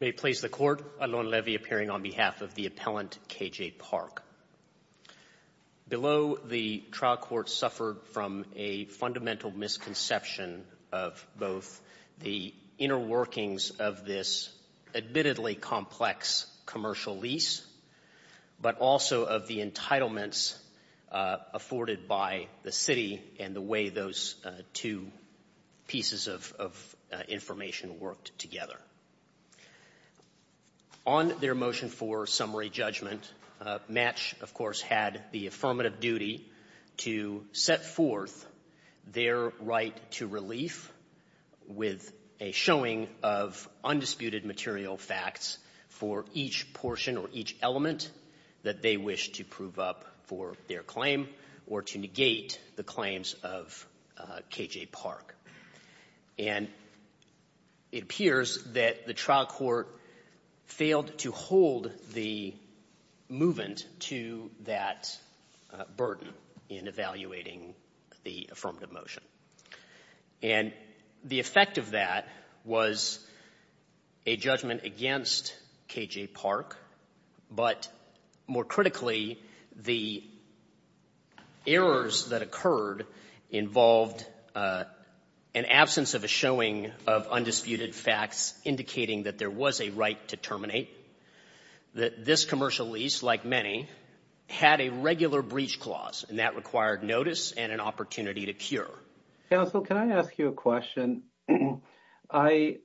May it please the Court, Alon Levy appearing on behalf of the appellant KJ-Park. Below the trial court suffered from a fundamental misconception of both the inner workings of this admittedly complex commercial lease, but also of the entitlements afforded by the city and the way those two pieces of information worked together. On their motion for summary judgment, Match, of course, had the affirmative duty to set forth their right to relief with a showing of undisputed material facts for each portion or each element that they wished to prove up for their claim or to negate the claims of KJ-Park. And it appears that the trial court failed to hold the movement to that burden in evaluating the affirmative motion. And the effect of that was a judgment against KJ-Park, but more critically, the errors that occurred involved an absence of a showing of undisputed facts indicating that there was a right to terminate, that this commercial lease, like many, had a regular breach clause and that required notice and an opportunity to cure. Counsel, can I ask you a question? It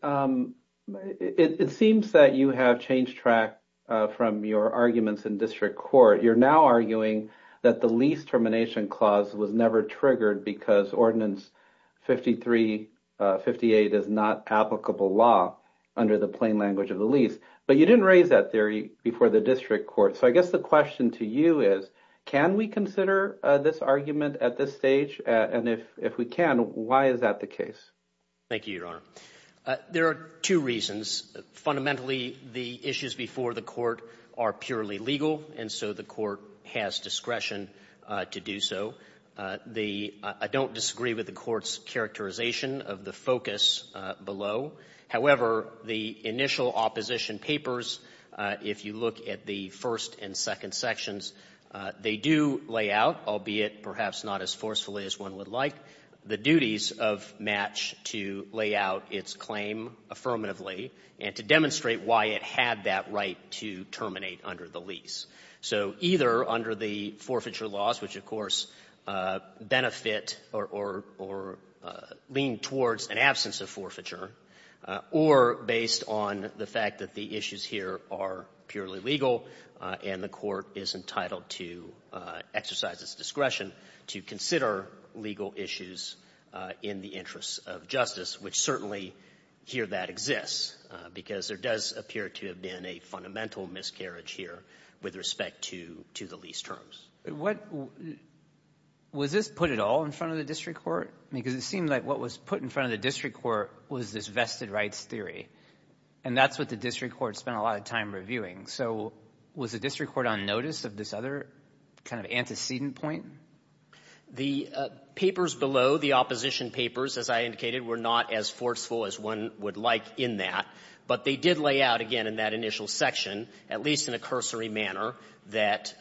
seems that you have changed track from your arguments in district court. You're now arguing that the lease termination clause was never triggered because Ordinance 5358 is not applicable law under the plain language of the lease, but you didn't raise that theory before the district court. So I guess the question to you is, can we consider this argument at this stage? And if we can, why is that the case? Thank you, Your Honor. There are two reasons. Fundamentally, the issues before the court are purely legal, and so the court has discretion to do so. I don't disagree with the court's characterization of the focus below. However, the initial opposition papers, if you look at the first and second sections, they do lay out, albeit perhaps not as forcefully as one would like, the duties of match to lay out its claim affirmatively and to demonstrate why it had that right to terminate under the So either under the forfeiture laws, which, of course, benefit or lean towards an absence of forfeiture, or based on the fact that the issues here are purely legal and the court is entitled to exercise its discretion to consider legal issues in the interests of justice, which certainly here that exists, because there does appear to have been a fundamental miscarriage here with respect to the lease terms. Was this put at all in front of the district court? Because it seemed like what was put in front of the district court was this vested rights theory, and that's what the district court spent a lot of time reviewing. So was the district court on notice of this other kind of antecedent point? The papers below, the opposition papers, as I indicated, were not as forceful as one would like in that, but they did lay out, again, in that initial section, at least in a cursory manner, that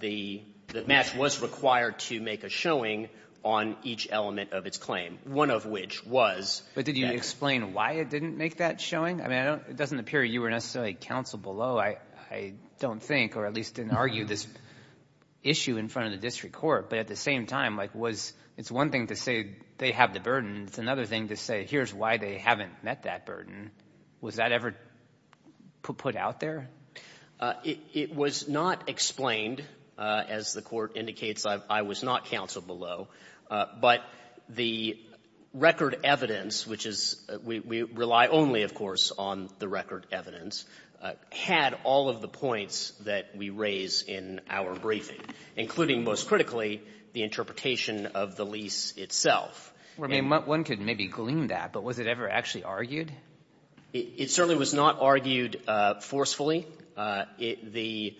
the match was required to make a showing on each element of its claim, one of which was the next. But did you explain why it didn't make that showing? I mean, it doesn't appear you were necessarily counsel below. I don't think, or at least didn't argue this issue in front of the district court. But at the same time, it's one thing to say they have the burden, it's another thing to say here's why they haven't met that burden. Was that ever put out there? It was not explained. As the court indicates, I was not counsel below. But the record evidence, which is we rely only, of course, on the record evidence, had all of the points that we raise in our briefing, including, most critically, the interpretation of the lease itself. I mean, one could maybe glean that, but was it ever actually argued? It certainly was not argued forcefully. The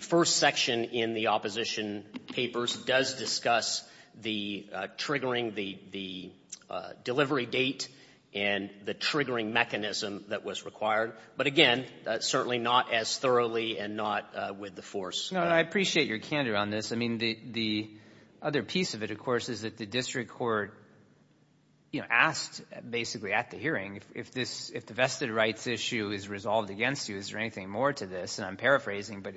first section in the opposition papers does discuss the triggering, the delivery date and the triggering mechanism that was required, but again, certainly not as thoroughly and not with the force. No, I appreciate your candor on this. I mean, the other piece of it, of course, is that the district court, you know, asked at the hearing, if the vested rights issue is resolved against you, is there anything more to this? And I'm paraphrasing, but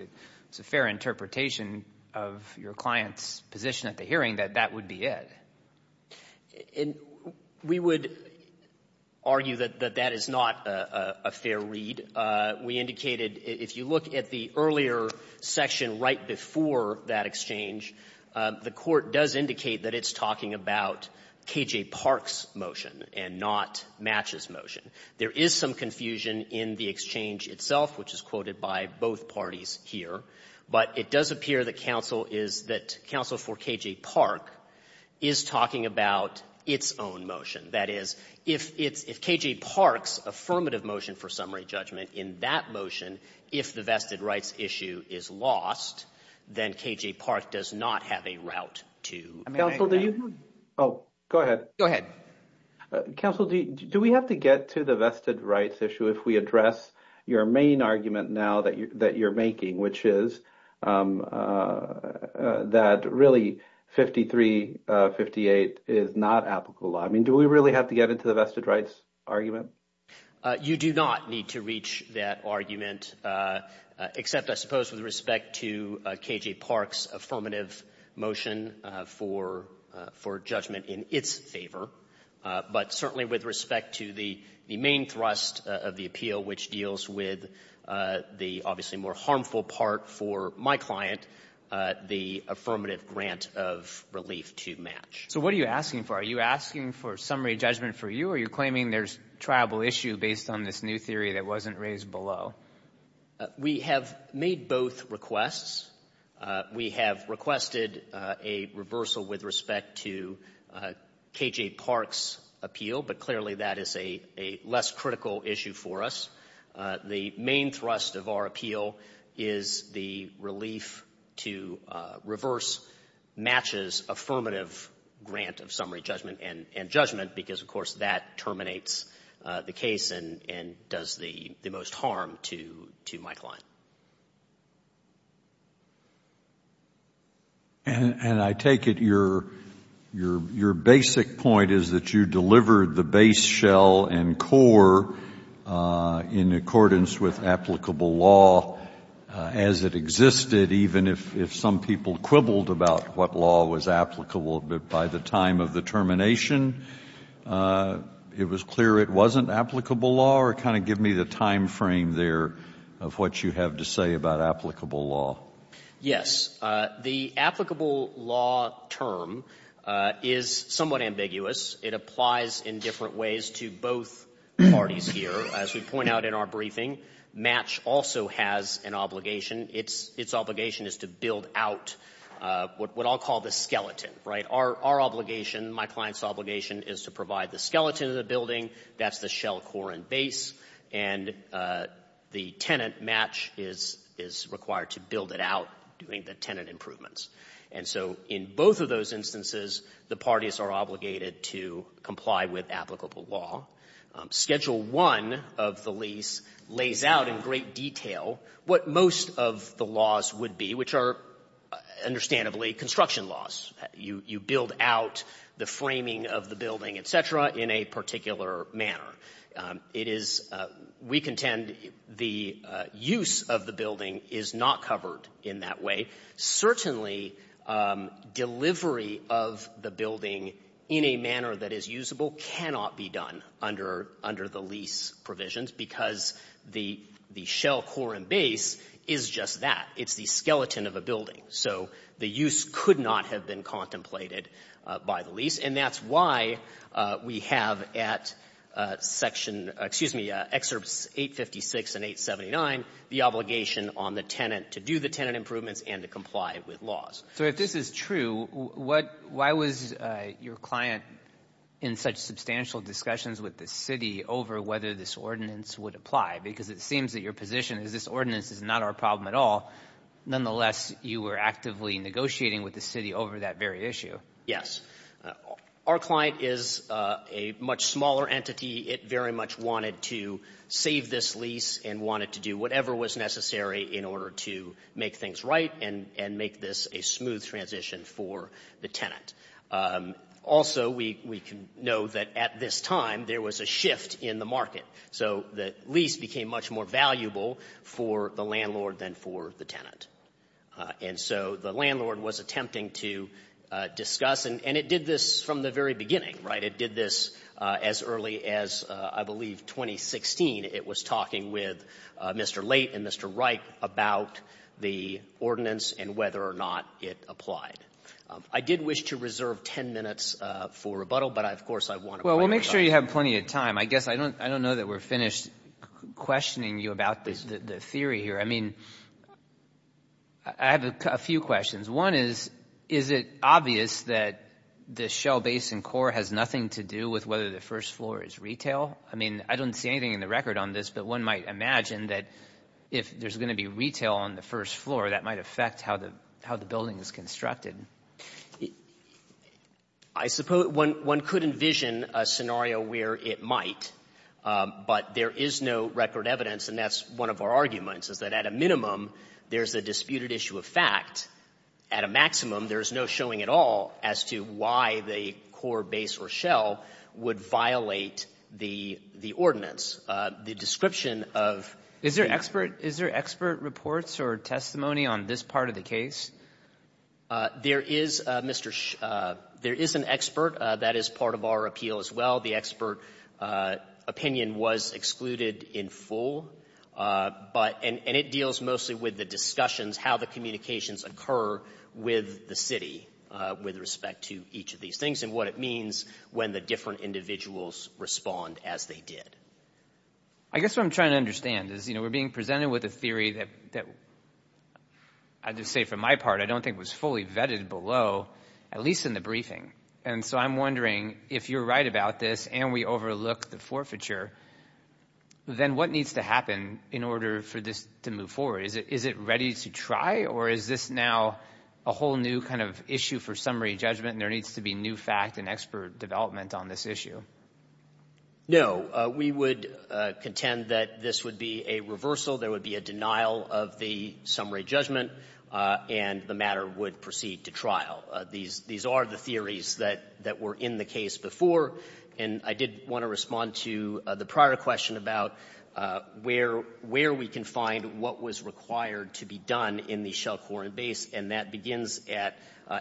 it's a fair interpretation of your client's position at the hearing that that would be it. We would argue that that is not a fair read. We indicated, if you look at the earlier section right before that exchange, the court does indicate that it's talking about K.J. Park's motion and not Match's motion. There is some confusion in the exchange itself, which is quoted by both parties here, but it does appear that counsel is that counsel for K.J. Park is talking about its own motion. That is, if it's KJ Park's affirmative motion for summary judgment, in that motion, if the vested rights issue is lost, then K.J. Park does not have a route to... Counsel, do you... Oh, go ahead. Go ahead. Counsel, do we have to get to the vested rights issue if we address your main argument now that you're making, which is that really 5358 is not applicable law? I mean, do we really have to get into the vested rights argument? You do not need to reach that argument, except, I suppose, with respect to K.J. Park's affirmative motion for judgment in its favor, but certainly with respect to the main thrust of the appeal, which deals with the obviously more harmful part for my client, the affirmative grant of relief to Match. So what are you asking for? Are you asking for summary judgment for you? Or are you claiming there's a triable issue based on this new theory that wasn't raised below? We have made both requests. We have requested a reversal with respect to K.J. Park's appeal, but clearly that is a less critical issue for us. The main thrust of our appeal is the relief to reverse Match's affirmative grant of summary judgment and judgment, because, of course, that terminates the case and does the most harm to my client. And I take it your basic point is that you delivered the base shell and core in accordance with applicable law as it existed, even if some people quibbled about what law was applicable by the time of the termination. It was clear it wasn't applicable law, or kind of give me the time frame there of what you have to say about applicable law. Yes. The applicable law term is somewhat ambiguous. It applies in different ways to both parties here. As we point out in our briefing, Match also has an obligation. Its obligation is to build out what I'll call the skeleton, right? Our obligation, my client's obligation, is to provide the skeleton of the building. That's the shell, core, and base. And the tenant, Match, is required to build it out, doing the tenant improvements. And so in both of those instances, the parties are obligated to comply with applicable law. Schedule 1 of the lease lays out in great detail what most of the laws would be, which are understandably construction laws. You build out the framing of the building, et cetera, in a particular manner. It is we contend the use of the building is not covered in that way. Certainly, delivery of the building in a manner that is usable cannot be done. Under the lease provisions, because the shell, core, and base is just that. It's the skeleton of a building. So the use could not have been contemplated by the lease. And that's why we have at Section — excuse me, Excerpts 856 and 879, the obligation on the tenant to do the tenant improvements and to comply with laws. So if this is true, why was your client in such substantial discussions with the city over whether this ordinance would apply? Because it seems that your position is this ordinance is not our problem at all. Nonetheless, you were actively negotiating with the city over that very issue. Yes. Our client is a much smaller entity. It very much wanted to save this lease and wanted to do whatever was necessary in order to make things right and make this a smooth transition for the tenant. Also, we can know that at this time there was a shift in the market. So the lease became much more valuable for the landlord than for the tenant. And so the landlord was attempting to discuss, and it did this from the very beginning, right? It did this as early as, I believe, 2016. It was talking with Mr. Late and Mr. Wright about the ordinance and whether or not it applied. I did wish to reserve 10 minutes for rebuttal, but, of course, I want to — Well, we'll make sure you have plenty of time. I guess I don't know that we're finished questioning you about the theory here. I mean, I have a few questions. One is, is it obvious that the Shell Basin core has nothing to do with whether the first floor is retail? I mean, I don't see anything in the record on this, but one might imagine that if there's going to be retail on the first floor, that might affect how the building is constructed. I suppose one could envision a scenario where it might. But there is no record evidence, and that's one of our arguments, is that at a minimum there's a disputed issue of fact. At a maximum, there's no showing at all as to why the core base or shell would violate the ordinance. The description of the — Is there expert — is there expert reports or testimony on this part of the case? There is, Mr. — there is an expert. That is part of our appeal as well. The expert opinion was excluded in full, but — and it deals mostly with the discussions, how the communications occur with the city with respect to each of these things, and what it means when the different individuals respond as they did. I guess what I'm trying to understand is, you know, we're being presented with a theory that — I'd just say for my part, I don't think was fully vetted below, at least in the briefing. And so I'm wondering, if you're right about this and we overlook the forfeiture, then what needs to happen in order for this to move forward? Is it ready to try, or is this now a whole new kind of issue for summary judgment, and there needs to be new fact and expert development on this issue? No. We would contend that this would be a reversal. There would be a denial of the summary judgment, and the matter would proceed to trial. These are the theories that were in the case before. And I did want to respond to the prior question about where we can find what was required to be done in the shell, core, and base, and that begins at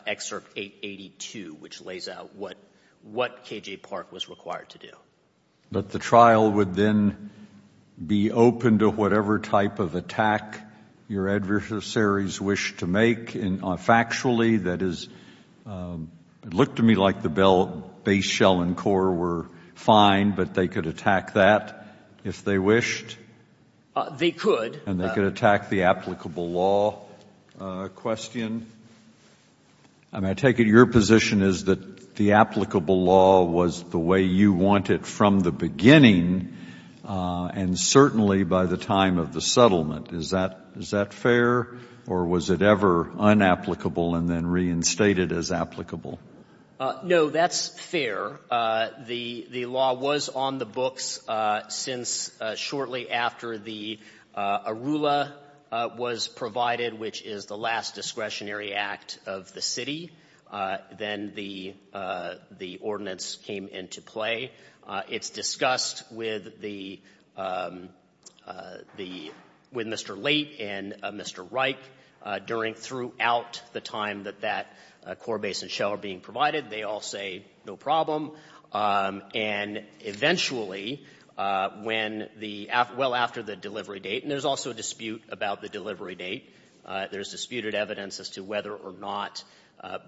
Excerpt 882, which lays out what K.J. Park was required to do. But the trial would then be open to whatever type of attack your adversaries wish to make, and factually, that is — it looked to me like the base, shell, and core were fine, but they could attack that if they wished? They could. And they could attack the applicable law question? I mean, I take it your position is that the applicable law was the way you wanted from the beginning, and certainly by the time of the settlement. Is that fair? Or was it ever unapplicable and then reinstated as applicable? No, that's fair. The law was on the books since shortly after the ARULA was provided, which is the last discretionary act of the city. Then the ordinance came into play. It's discussed with the — with Mr. Late and Mr. Reich during — throughout the time that that core, base, and shell are being provided. They all say no problem. And eventually, when the — well, after the delivery date, and there's also a dispute about the delivery date, there's disputed evidence as to whether or not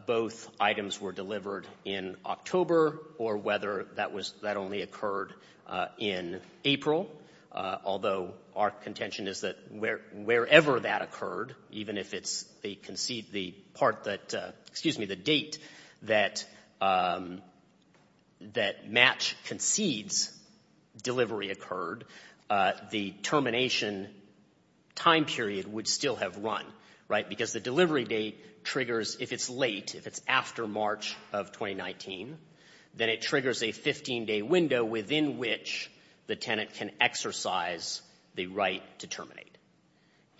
both items were delivered in October or whether that was — that only occurred in April, although our contention is that wherever that occurred, even if it's the part that — excuse me, the date that — that match concedes delivery occurred, the termination time period would still have run, right? Because the delivery date triggers — if it's late, if it's after March of 2019, then it triggers a 15-day window within which the tenant can exercise the right to terminate.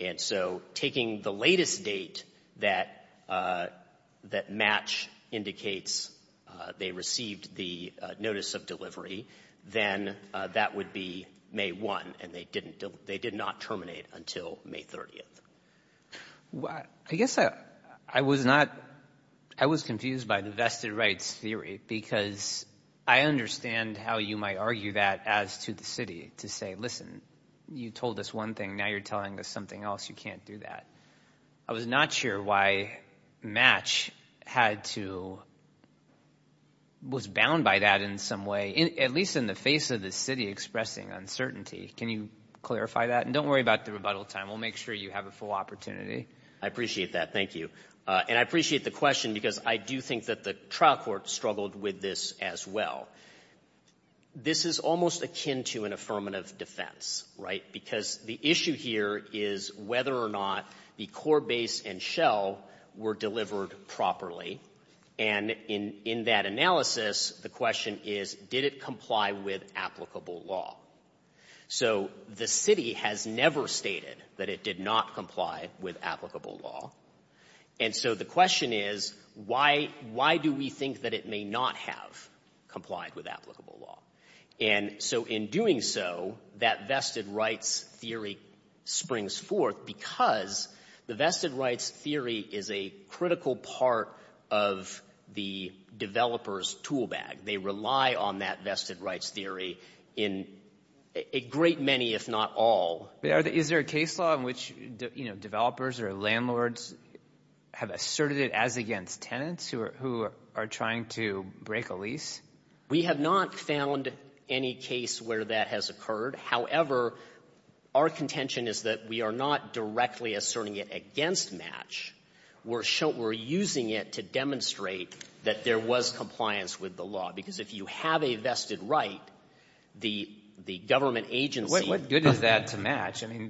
And so taking the latest date that match indicates they received the notice of delivery, then that would be May 1, and they didn't — they did not terminate until May 30th. I guess I was not — I was confused by the vested rights theory, because I understand how you might argue that as to the city, to say, listen, you told us one thing, now you're telling us something else. You can't do that. I was not sure why match had to — was bound by that in some way, at least in the face of the city expressing uncertainty. Can you clarify that? And don't worry about the rebuttal time. We'll make sure you have a full opportunity. I appreciate that. Thank you. And I appreciate the question, because I do think that the trial court struggled with this as well. This is almost akin to an affirmative defense, right? Because the issue here is whether or not the core base and shell were delivered properly. And in that analysis, the question is, did it comply with applicable law? So the city has never stated that it did not comply with applicable law. And so the question is, why do we think that it may not have complied with applicable law? And so in doing so, that vested rights theory springs forth, because the vested rights theory is a critical part of the developer's tool bag. They rely on that vested rights theory in a great many, if not all. Is there a case law in which developers or landlords have asserted it as against tenants who are trying to break a lease? We have not found any case where that has occurred. However, our contention is that we are not directly asserting it against match. We're using it to demonstrate that there was compliance with the law, because if you have a vested right, the government agency What good is that to match? I mean,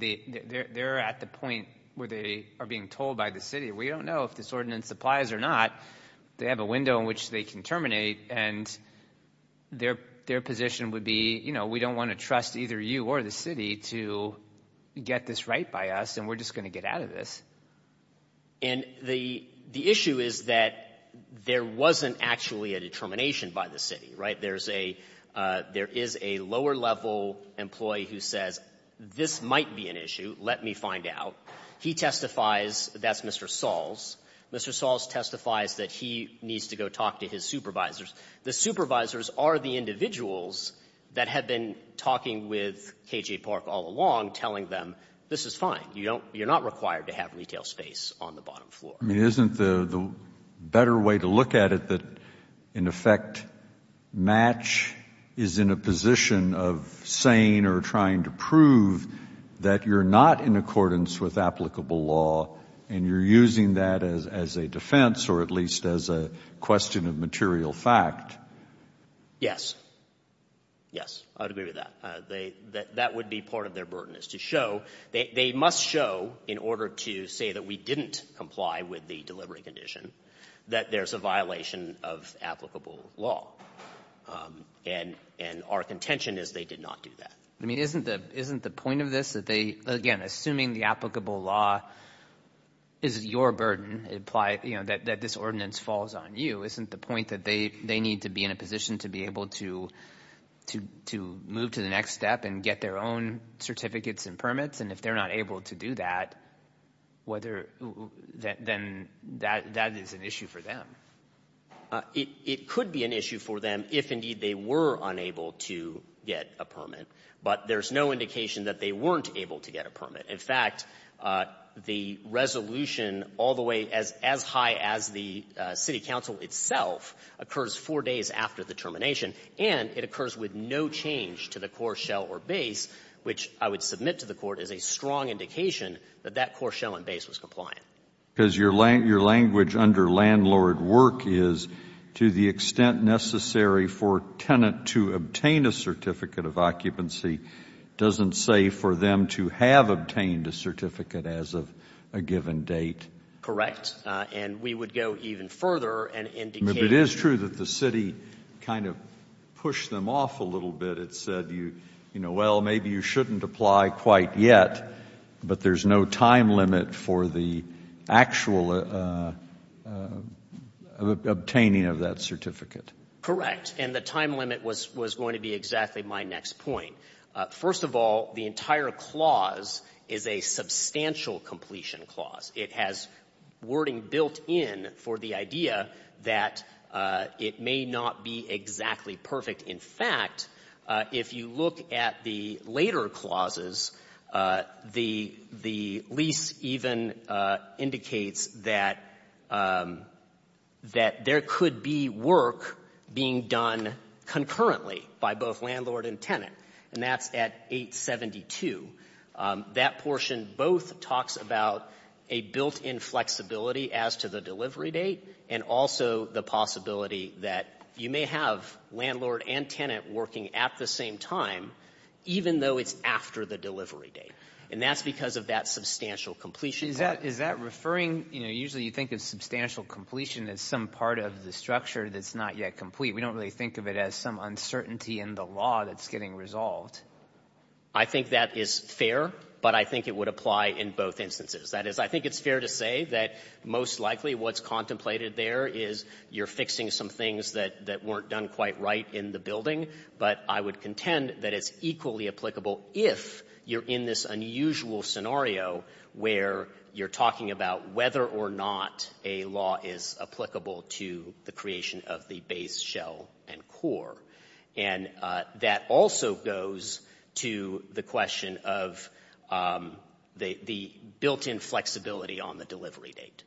they're at the point where they are being told by the city, we don't know if this ordinance applies or not. They have a window in which they can terminate, and their position would be, you know, we don't want to trust either you or the city to get this right by us, and we're just going to get out of this. And the issue is that there wasn't actually a determination by the city, right? There is a lower-level employee who says, this might be an issue. Let me find out. He testifies That's Mr. Sahls. Mr. Sahls testifies that he needs to go talk to his supervisors. The supervisors are the individuals that have been talking with K.J. Park all along, telling them, this is fine. You're not required to have retail space on the bottom floor. I mean, isn't the better way to look at it that, in effect, match is in a position of saying or trying to prove that you're not in accordance with applicable law, and you're using that as a defense, or at least as a question of material fact? Yes. Yes, I would agree with that. That would be part of their burden, is to show, they must show, in order to say that we didn't comply with the delivery condition, that there's a violation of applicable law. And our contention is they did not do that. Isn't the point of this that they, again, assuming the applicable law is your burden, that this ordinance falls on you, isn't the point that they need to be in a position to be able to move to the next step and get their own certificates and permits? And if they're not able to do that, whether, then that is an issue for them. It could be an issue for them if, indeed, they were unable to get a permit. But there's no indication that they weren't able to get a permit. In fact, the resolution all the way as high as the city council itself occurs four days after the termination, and it occurs with no change to the core shell or base, which I would submit to the Court as a strong indication that that core shell and base was compliant. Because your language under landlord work is, to the extent necessary for a tenant to obtain a certificate of occupancy doesn't say for them to have obtained a certificate as of a given date. Correct. And we would go even further and indicate It is true that the city kind of pushed them off a little bit. It said, you know, well, maybe you shouldn't apply quite yet, but there's no time limit for the actual obtaining of that certificate. Correct. And the time limit was going to be exactly my next point. First of all, the entire clause is a substantial completion clause. It has wording built in for the idea that it may not be exactly perfect. In fact, if you look at the later clauses, the lease even indicates that there could be work being done concurrently by both landlord and tenant, and that's at 872. That portion both talks about a built-in flexibility as to the delivery date and also the possibility that you may have landlord and tenant working at the same time, even though it's after the delivery date. And that's because of that substantial completion clause. Is that referring, you know, usually you think of substantial completion as some part of the structure that's not yet complete. We don't really think of it as some uncertainty in the law that's getting resolved. I think that is fair, but I think it would apply in both instances. That is, I think it's fair to say that most likely what's contemplated there is you're fixing some things that weren't done quite right in the building, but I would contend that it's equally applicable if you're in this unusual scenario where you're talking about whether or not a law is applicable to the creation of the base shell and core. And that also goes to the question of the built-in flexibility on the delivery date.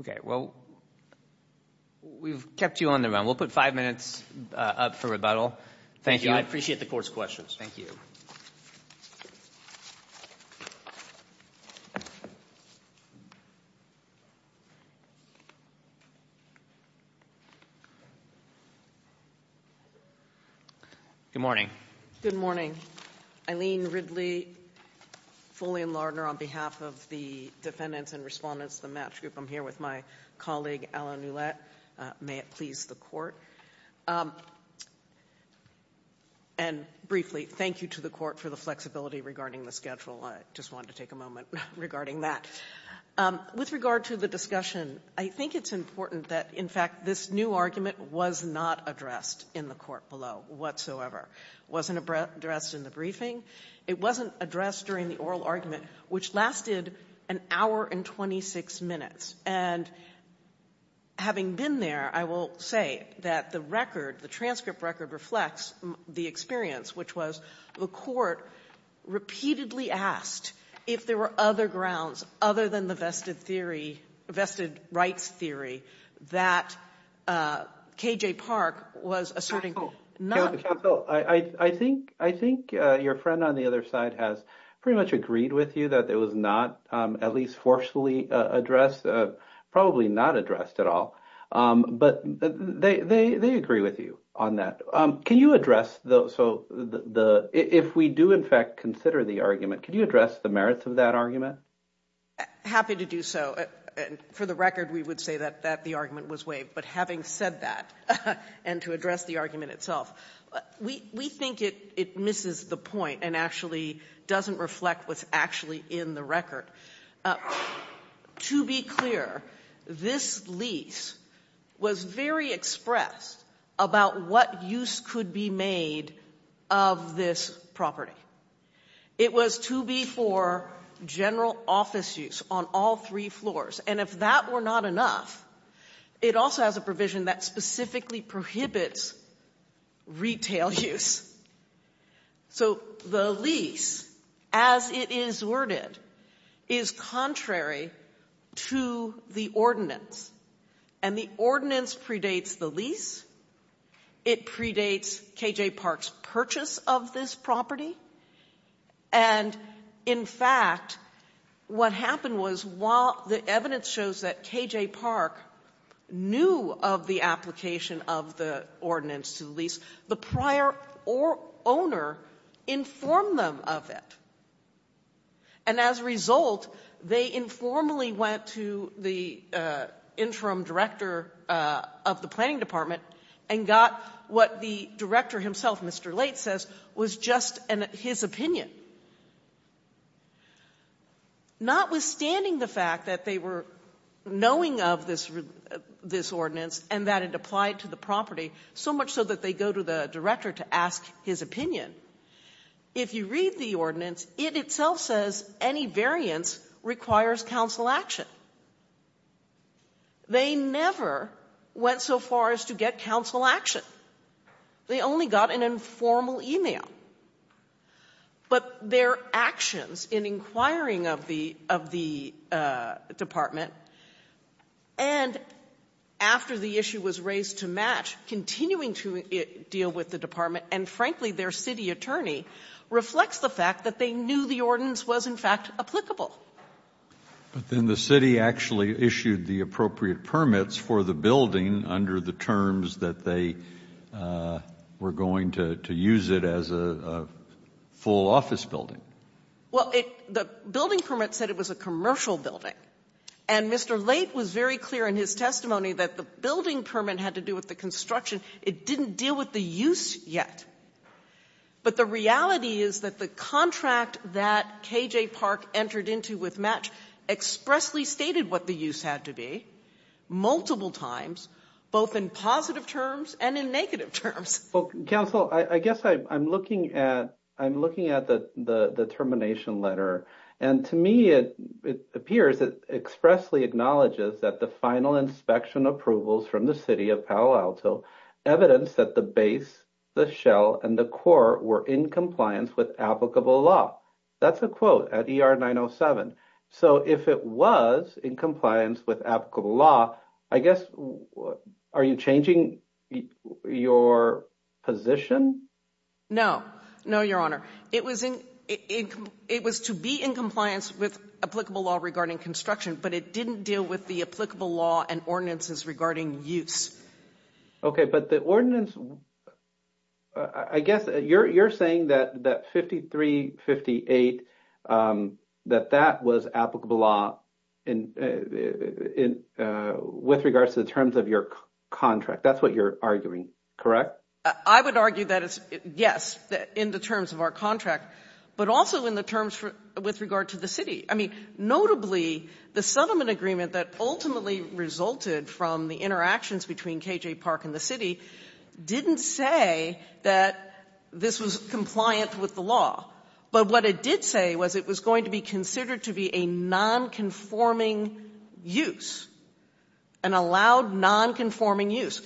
Okay. Well, we've kept you on the run. We'll put five minutes up for rebuttal. Thank you. I appreciate the Court's questions. Good morning. Good morning. Eileen Ridley, fully in Lardner on behalf of the defendants and respondents to the match group. I'm here with my colleague, Alan Ouellette. May it please the Court. And briefly, thank you to the Court for the flexibility regarding the schedule. I just wanted to take a moment regarding that. With regard to the discussion, I think it's important that, in fact, this new argument was not addressed in the Court below whatsoever. It wasn't addressed in the briefing. It wasn't addressed during the oral argument, which lasted an hour and 26 minutes. And having been there, I will say that the record, the transcript record, reflects the experience, which was the Court repeatedly asked if there were other grounds other than the vested theory rights theory that K.J. Park was asserting. Counsel, I think your friend on the other side has pretty much agreed with you that it was not at least forcefully addressed, probably not addressed at all. But they agree with you on that. Can you address, if we do, in fact, consider the argument, can you address the merits of that argument? Happy to do so. And for the record, we would say that the argument was waived. But having said that, and to address the argument itself, we think it misses the point and actually doesn't reflect what's actually in the record. To be clear, this lease was very expressed about what use could be made of this property. It was to be for general office use on all three floors. And if that were not enough, it also has a provision that specifically prohibits retail use. So the lease, as it is worded, is contrary to the ordinance. And the ordinance predates the lease, it predates K.J. Park's purchase of this property. And in fact, what happened was while the evidence shows that K.J. Park knew of the application of the ordinance to the lease, the prior owner informed them of it. And as a result, they informally went to the interim director of the planning department and got what the director himself, Mr. Late, says was just his opinion. Notwithstanding the fact that they were knowing of this ordinance and that it applied to the property, so much so that they go to the director to ask his opinion, if you read the ordinance, it itself says any variance requires counsel action. They never went so far as to say that they went so far as to get counsel action. They only got an informal e-mail. But their actions in inquiring of the department and after the issue was raised to match, continuing to deal with the department, and frankly, their city attorney, reflects the fact that they knew the ordinance was in fact applicable. But then the city actually issued the appropriate permits for the building under the terms that they were going to use it as a full office building. Well, the building permit said it was a commercial building. And Mr. Late was very clear in his testimony that the building permit had to do with the construction. It didn't deal with the use yet. But the reality is that the contract that K.J. Park entered into with match expressly stated what the use had to be multiple times, both in positive terms and in negative terms. Well, counsel, I guess I'm looking at the termination letter. And to me, it appears it expressly acknowledges that the final inspection approvals from the city of Palo Alto evidence that the base, the shell, and the core were in compliance with applicable law. That's a quote at ER 907. So if it was in compliance with applicable law, I guess, are you changing your position? No. No, Your Honor. It was to be in compliance with applicable law regarding construction. But it didn't deal with the applicable law and ordinances regarding use. Okay. But the ordinance, I guess you're saying that 5358, that that was applicable law with regards to the terms of your contract. That's what you're arguing, correct? I would argue that it's, yes, in the terms of our contract, but also in the terms with regard to the city. I mean, notably, the settlement agreement that ultimately resulted from the interactions between KJ Park and the city didn't say that this was compliant with the law. But what it did say was it was going to be considered to be a non-conforming use, an allowed non-conforming use.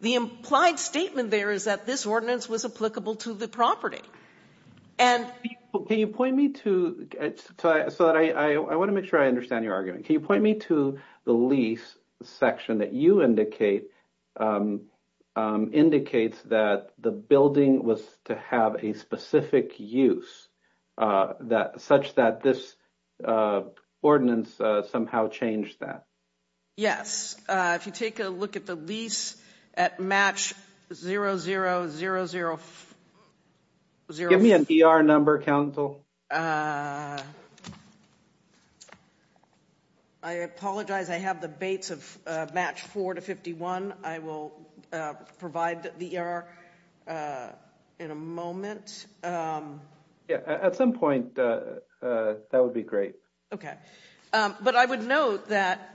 The implied statement there is that this ordinance was applicable to the property. Can you point me to, I want to make sure I understand your argument. Can you point me to the lease section that you indicate indicates that the building was to have a specific use such that this ordinance somehow changed that? Yes. If you take a look at the lease at match 0000... Give me an ER number, counsel. I apologize. I have the bates of match 4251. I will provide the ER in a moment. At some point, that would be great. Okay. But I would note that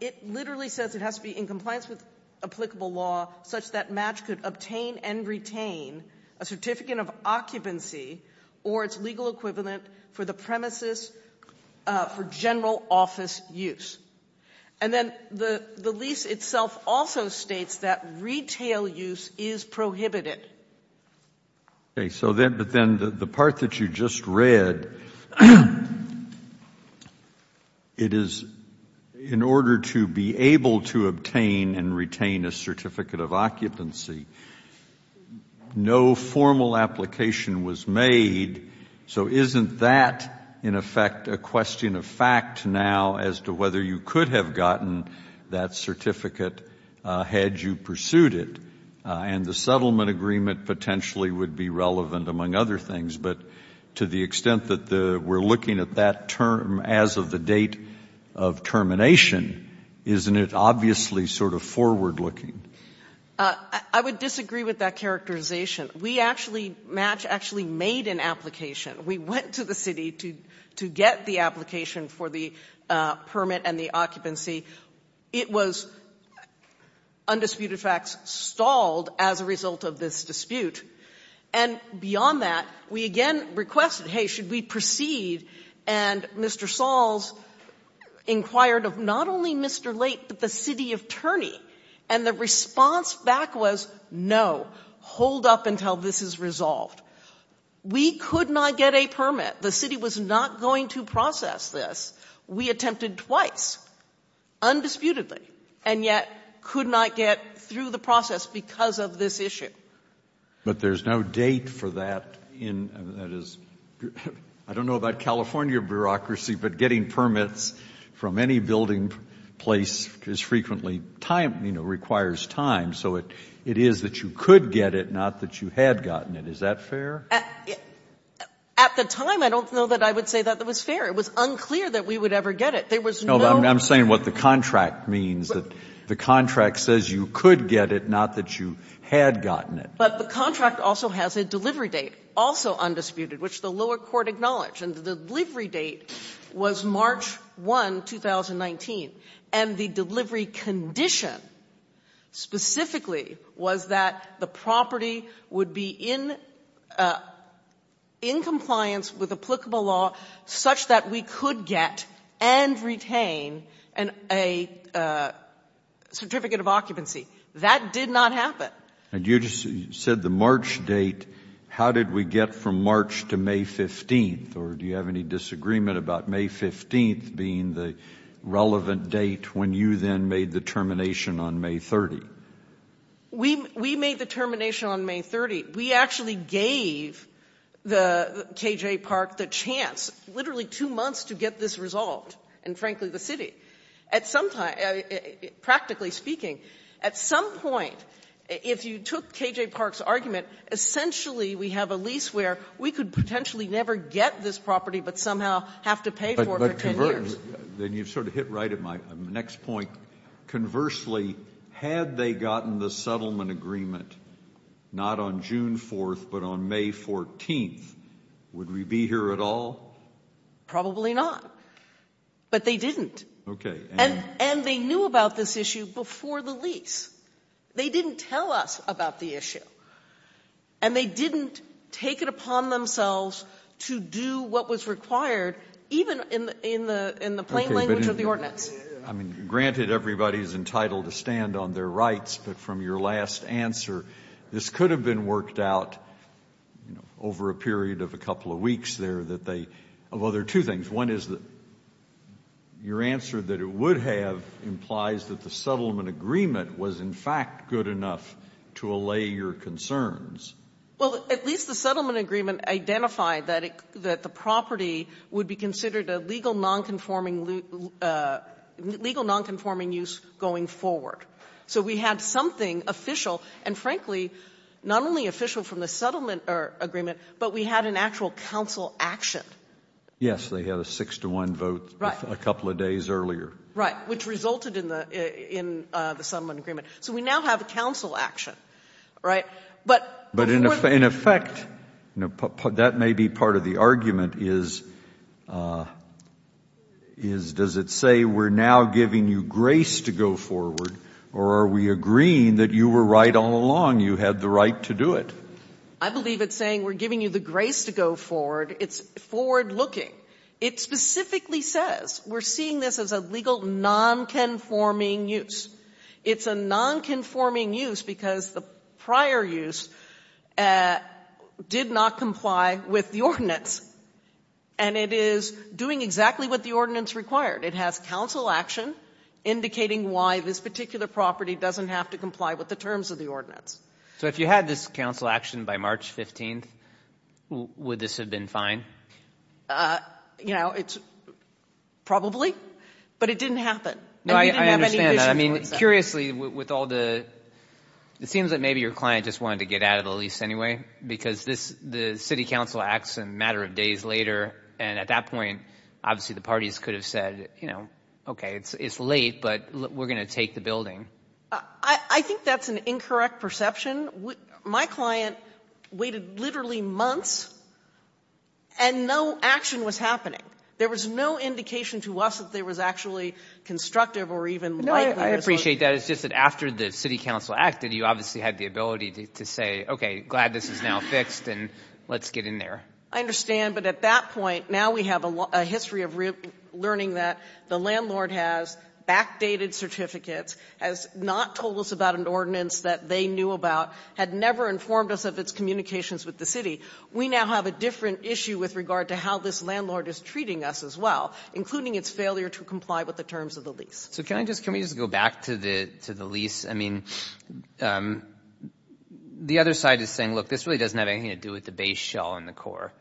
it literally says it has to be in compliance with applicable law such that match could obtain and retain a certificate of occupancy or its legal equivalent for the premises for general office use. And then the lease itself also states that retail use is prohibited. Okay. But then the part that you just read, it is in order to be able to obtain and retain a certificate of occupancy. No formal application was made. So isn't that, in effect, a question of fact now as to whether you could have gotten that certificate had you pursued it? And the settlement agreement potentially would be relevant among other things. But to the extent that we are looking at that term as of the date of termination, isn't it obviously sort of forward looking? I would disagree with that characterization. We actually, match actually made an application. We went to the city to get the application for the permit and the occupancy. It was, undisputed facts, stalled as a result of this dispute. And beyond that, we again requested, hey, should we proceed? And Mr. Sauls inquired of not only Mr. Late, but the city attorney. And the response back was, no, hold up until this is resolved. We could not get a permit. The city was not going to process this. We attempted twice, undisputedly, and yet could not get through the process because of this issue. But there is no date for that in, that is, I don't know about California bureaucracy, but getting permits from any building place is frequently time, you know, requires time. So it is that you could get it, not that you had gotten it. Is that fair? At the time, I don't know that I would say that was fair. It was unclear that we would ever get it. There was no. I'm saying what the contract means, that the contract says you could get it, not that you had gotten it. But the contract also has a delivery date, also undisputed, which the lower court acknowledged. And the delivery date was March 1, 2019. And the delivery condition specifically was that the property would be in compliance with applicable law such that we could get and retain a certificate of occupancy. That did not happen. And you just said the March date. How did we get from March to May 15th? Or do you have any disagreement about May 15th being the relevant date when you then made the termination on May 30th? We made the termination on May 30th. We actually gave the KJ Park the chance, literally two months, to get this resolved in, frankly, the city. At some time, practically speaking, at some point, if you took KJ Park's argument, essentially we have a lease where we could potentially never get this property but somehow have to pay for it for 10 years. But, then you sort of hit right at my next point. Conversely, had they gotten the settlement agreement not on June 4th but on May 14th, would we be here at all? Probably not. But they didn't. Okay. And they knew about this issue before the lease. They didn't tell us about the issue. And they didn't take it upon themselves to do what was required, even in the plain language of the ordinance. Okay. But, I mean, granted, everybody is entitled to stand on their rights, but from your last answer, this could have been worked out over a period of a couple of years. Of other two things. One is your answer that it would have implies that the settlement agreement was, in fact, good enough to allay your concerns. Well, at least the settlement agreement identified that the property would be considered a legal non-conforming use going forward. So we had something official and, frankly, not only official from the settlement agreement, but we had an actual council action. Yes. They had a six to one vote a couple of days earlier. Right. Which resulted in the settlement agreement. So we now have a council action. Right? But in effect, that may be part of the argument, is does it say we're now giving you grace to go forward or are we agreeing that you were right all along, you had the right to do it? I believe it's saying we're giving you the grace to go forward. It's forward looking. It specifically says we're seeing this as a legal non-conforming use. It's a non-conforming use because the prior use did not comply with the ordinance. And it is doing exactly what the ordinance required. It has council action indicating why this particular property doesn't have to comply with the terms of the ordinance. So if you had this council action by March 15th, would this have been fine? You know, it's probably, but it didn't happen. No, I understand that. I mean, curiously, with all the, it seems that maybe your client just wanted to get out of the lease anyway, because the city council acts a matter of days later. And at that point, obviously, the parties could have said, you know, OK, it's late, but we're going to take the building. I think that's an incorrect perception. My client waited literally months and no action was happening. There was no indication to us that there was actually constructive or even light. No, I appreciate that. It's just that after the city council acted, you obviously had the ability to say, OK, glad this is now fixed and let's get in there. I understand. But at that point, now we have a history of learning that the city has not told us about an ordinance that they knew about, had never informed us of its communications with the city. We now have a different issue with regard to how this landlord is treating us as well, including its failure to comply with the terms of the lease. So can I just, can we just go back to the lease? I mean, the other side is saying, look, this really doesn't have anything to do with the base shell and the core.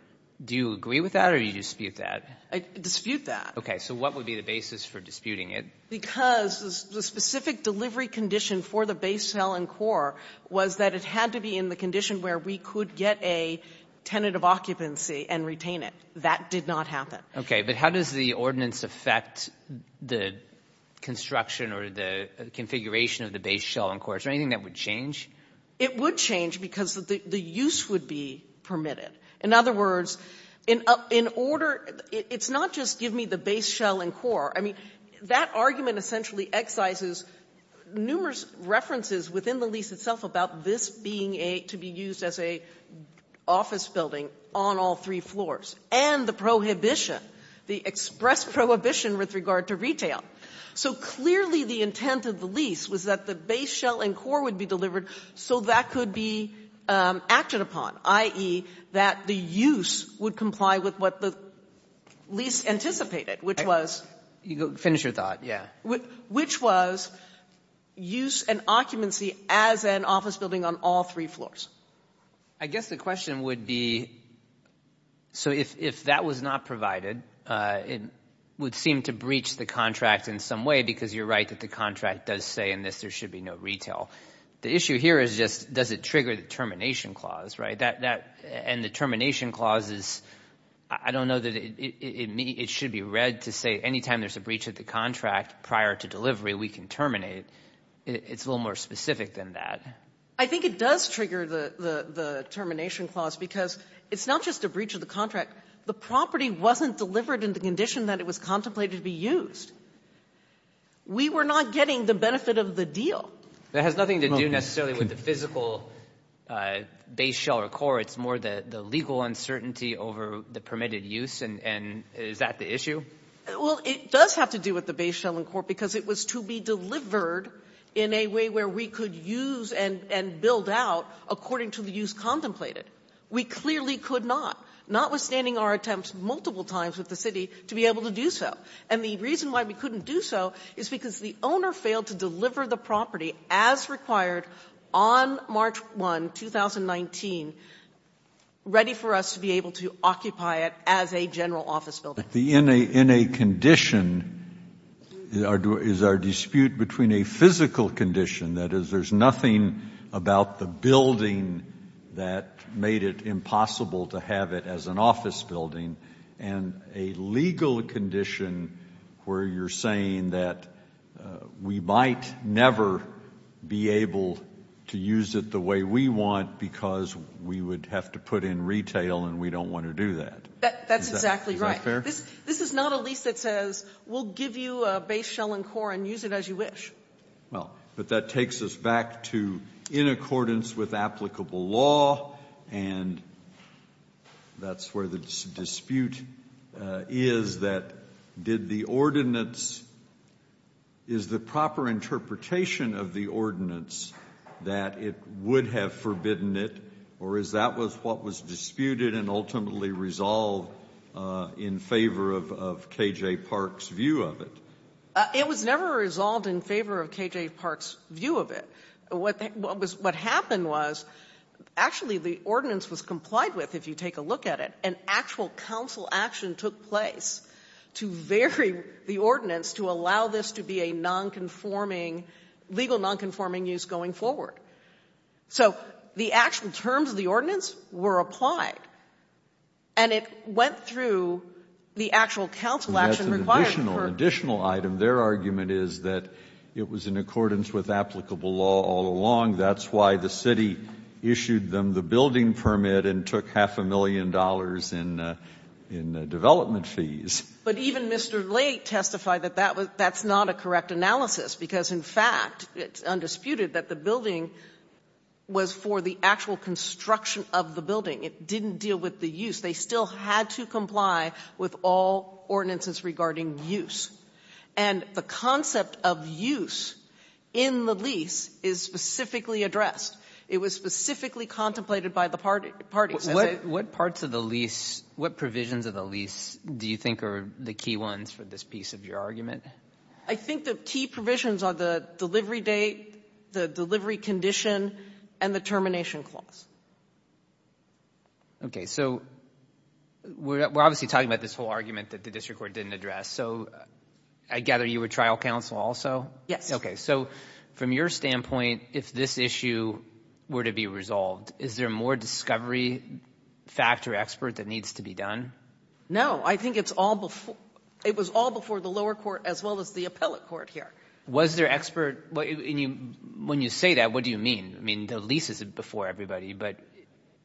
Do you agree with that or do you dispute that? I dispute that. OK, so what would be the basis for disputing it? Because the specific delivery condition for the base shell and core was that it had to be in the condition where we could get a tenant of occupancy and retain it. That did not happen. OK, but how does the ordinance affect the construction or the configuration of the base shell and core? Is there anything that would change? It would change because the use would be permitted. In other words, in order it's not just give me the base shell and core. I mean, that argument essentially excises numerous references within the lease itself about this being a, to be used as a office building on all three floors and the prohibition, the express prohibition with regard to retail. So clearly the intent of the lease was that the base shell and core would be delivered so that could be acted upon, i.e., that the use would comply with what the lease anticipated, which was... Finish your thought, yeah. Which was use and occupancy as an office building on all three floors. I guess the question would be, so if that was not provided, it would seem to breach the contract in some way because you're right that the contract does say in this there should be no retail. The issue here is just does it trigger the termination clause, right? And the termination clause is, I don't know that it should be read to say any time there's a breach of the contract prior to delivery we can terminate. It's a little more specific than that. I think it does trigger the termination clause because it's not just a breach of the contract. The property wasn't delivered in the condition that it was contemplated to be used. We were not getting the benefit of the deal. That has nothing to do necessarily with the physical base shell or core. It's more the legal uncertainty over the permitted use and is that the issue? Well, it does have to do with the base shell and core because it was to be delivered in a way where we could use and build out according to the use contemplated. We clearly could not, notwithstanding our attempts multiple times with the city to be able to do so. And the reason why we couldn't do so is because the owner failed to deliver the property as required on March 1, 2019, ready for us to be able to occupy it as a general office building. But the in a condition is our dispute between a physical condition, that is, there's nothing about the building that made it impossible to have it as an office building and a legal condition where you're saying that we can't use the property as a general office building. We might never be able to use it the way we want because we would have to put in retail and we don't want to do that. That's exactly right. This is not a lease that says we'll give you a base shell and core and use it as you wish. Well, but that takes us back to in accordance with applicable law and that's where the dispute is that did the ordinance, is the proper interpretation of the ordinance that it would have forbidden it or is that what was disputed and ultimately resolved in favor of K.J. Park's view of it? It was never resolved in favor of K.J. Park's view of it. What happened was actually the ordinance was complied with if you take a look at it and actual counsel action took place to vary the ordinance to allow this to be a non-conforming legal non-conforming use going forward. So the actual terms of the ordinance were applied and it went through the actual counsel action required. The additional item, their argument is that it was in accordance with applicable law all along. That's why the city issued them the building permit and took half a million dollars in development fees. But even Mr. Late testified that that's not a correct analysis because in fact it's undisputed that the building was for the actual construction of the building. It didn't deal with the use. They still had to comply with all ordinances regarding use. And the concept of use in the lease is specifically addressed. It was specifically contemplated by the parties. What parts of the lease, what provisions of the lease do you think are the key ones for this piece of your argument? I think the key provisions are the delivery date, the delivery condition, and the termination clause. Okay. So we're obviously talking about this whole argument that the district court didn't address. So I gather you were trial counsel also? Yes. Okay. So from your standpoint, if this issue were to be resolved, is there more discovery factor expert that needs to be done? No. I think it was all before the lower court as well as the appellate court here. Was there expert? When you say that, what do you mean? I mean, the lease is before everybody. But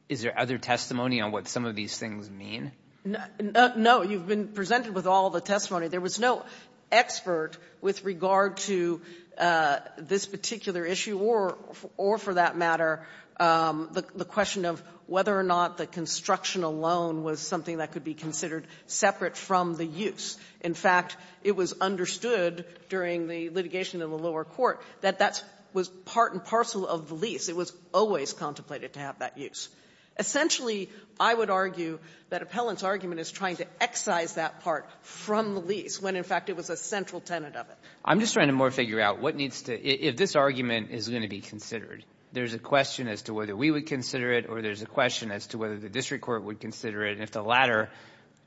is there other testimony on what some of these things mean? You've been presented with all the testimony. There was no expert with regard to this particular issue or, for that matter, the question of whether or not the construction alone was something that could be considered separate from the use. In fact, it was understood during the litigation in the lower court that that was part and part of the lease. It was always contemplated to have that use. Essentially, I would argue that appellant's argument is trying to excise that part from the lease when, in fact, it was a central tenet of it. I'm just trying to more figure out what needs to be, if this argument is going to be considered, there's a question as to whether we would consider it or there's a question as to whether the district court would consider it, and if the latter,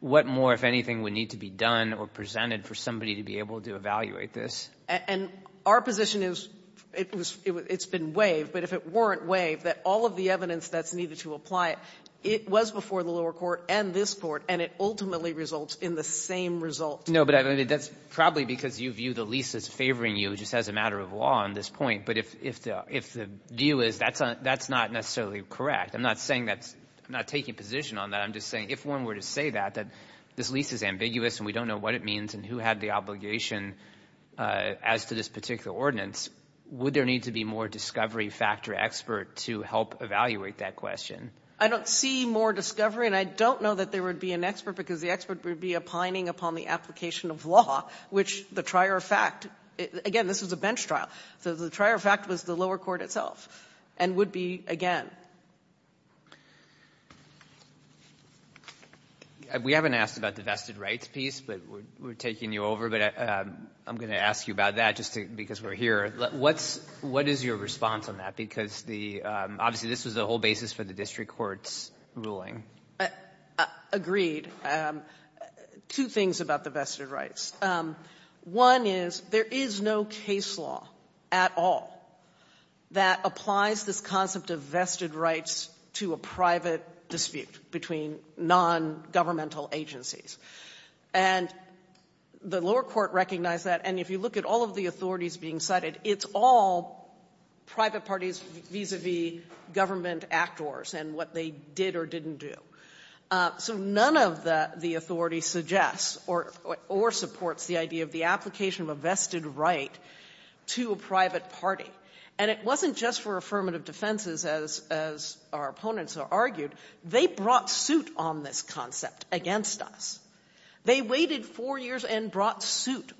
what more, if anything, would need to be done or presented for somebody to be able to evaluate this? And our position is it's been waived, but if it weren't waived, that all of the evidence that's needed to apply it, it was before the lower court and this Court, and it ultimately results in the same result. No, but that's probably because you view the lease as favoring you just as a matter of law on this point. But if the view is that's not necessarily correct, I'm not saying that's not taking position on that. I'm just saying if one were to say that, that this lease is ambiguous and we don't know what it means and who had the obligation as to this particular ordinance, would there need to be more discovery factor expert to help evaluate that question? I don't see more discovery, and I don't know that there would be an expert because the expert would be opining upon the application of law, which the trier of fact, again, this was a bench trial, so the trier of fact was the lower court itself, and would be, again. We haven't asked about the vested rights piece, but we're taking you over, but I'm going to ask you about that just because we're here. What is your response on that? Because obviously this was the whole basis for the district court's ruling. Agreed. Two things about the vested rights. One is, there is no case law at all that applies this concept of vested rights to a private dispute between nongovernmental agencies. And the lower court recognized that, and if you look at all of the authorities being cited, it's all private parties vis-a-vis government actors and what they did or didn't do. So none of the authorities suggests or supports the idea of the application of a vested right to a private party. And it wasn't just for affirmative defenses, as our opponents argued. They brought suit on this concept against us. They waited four years and brought suit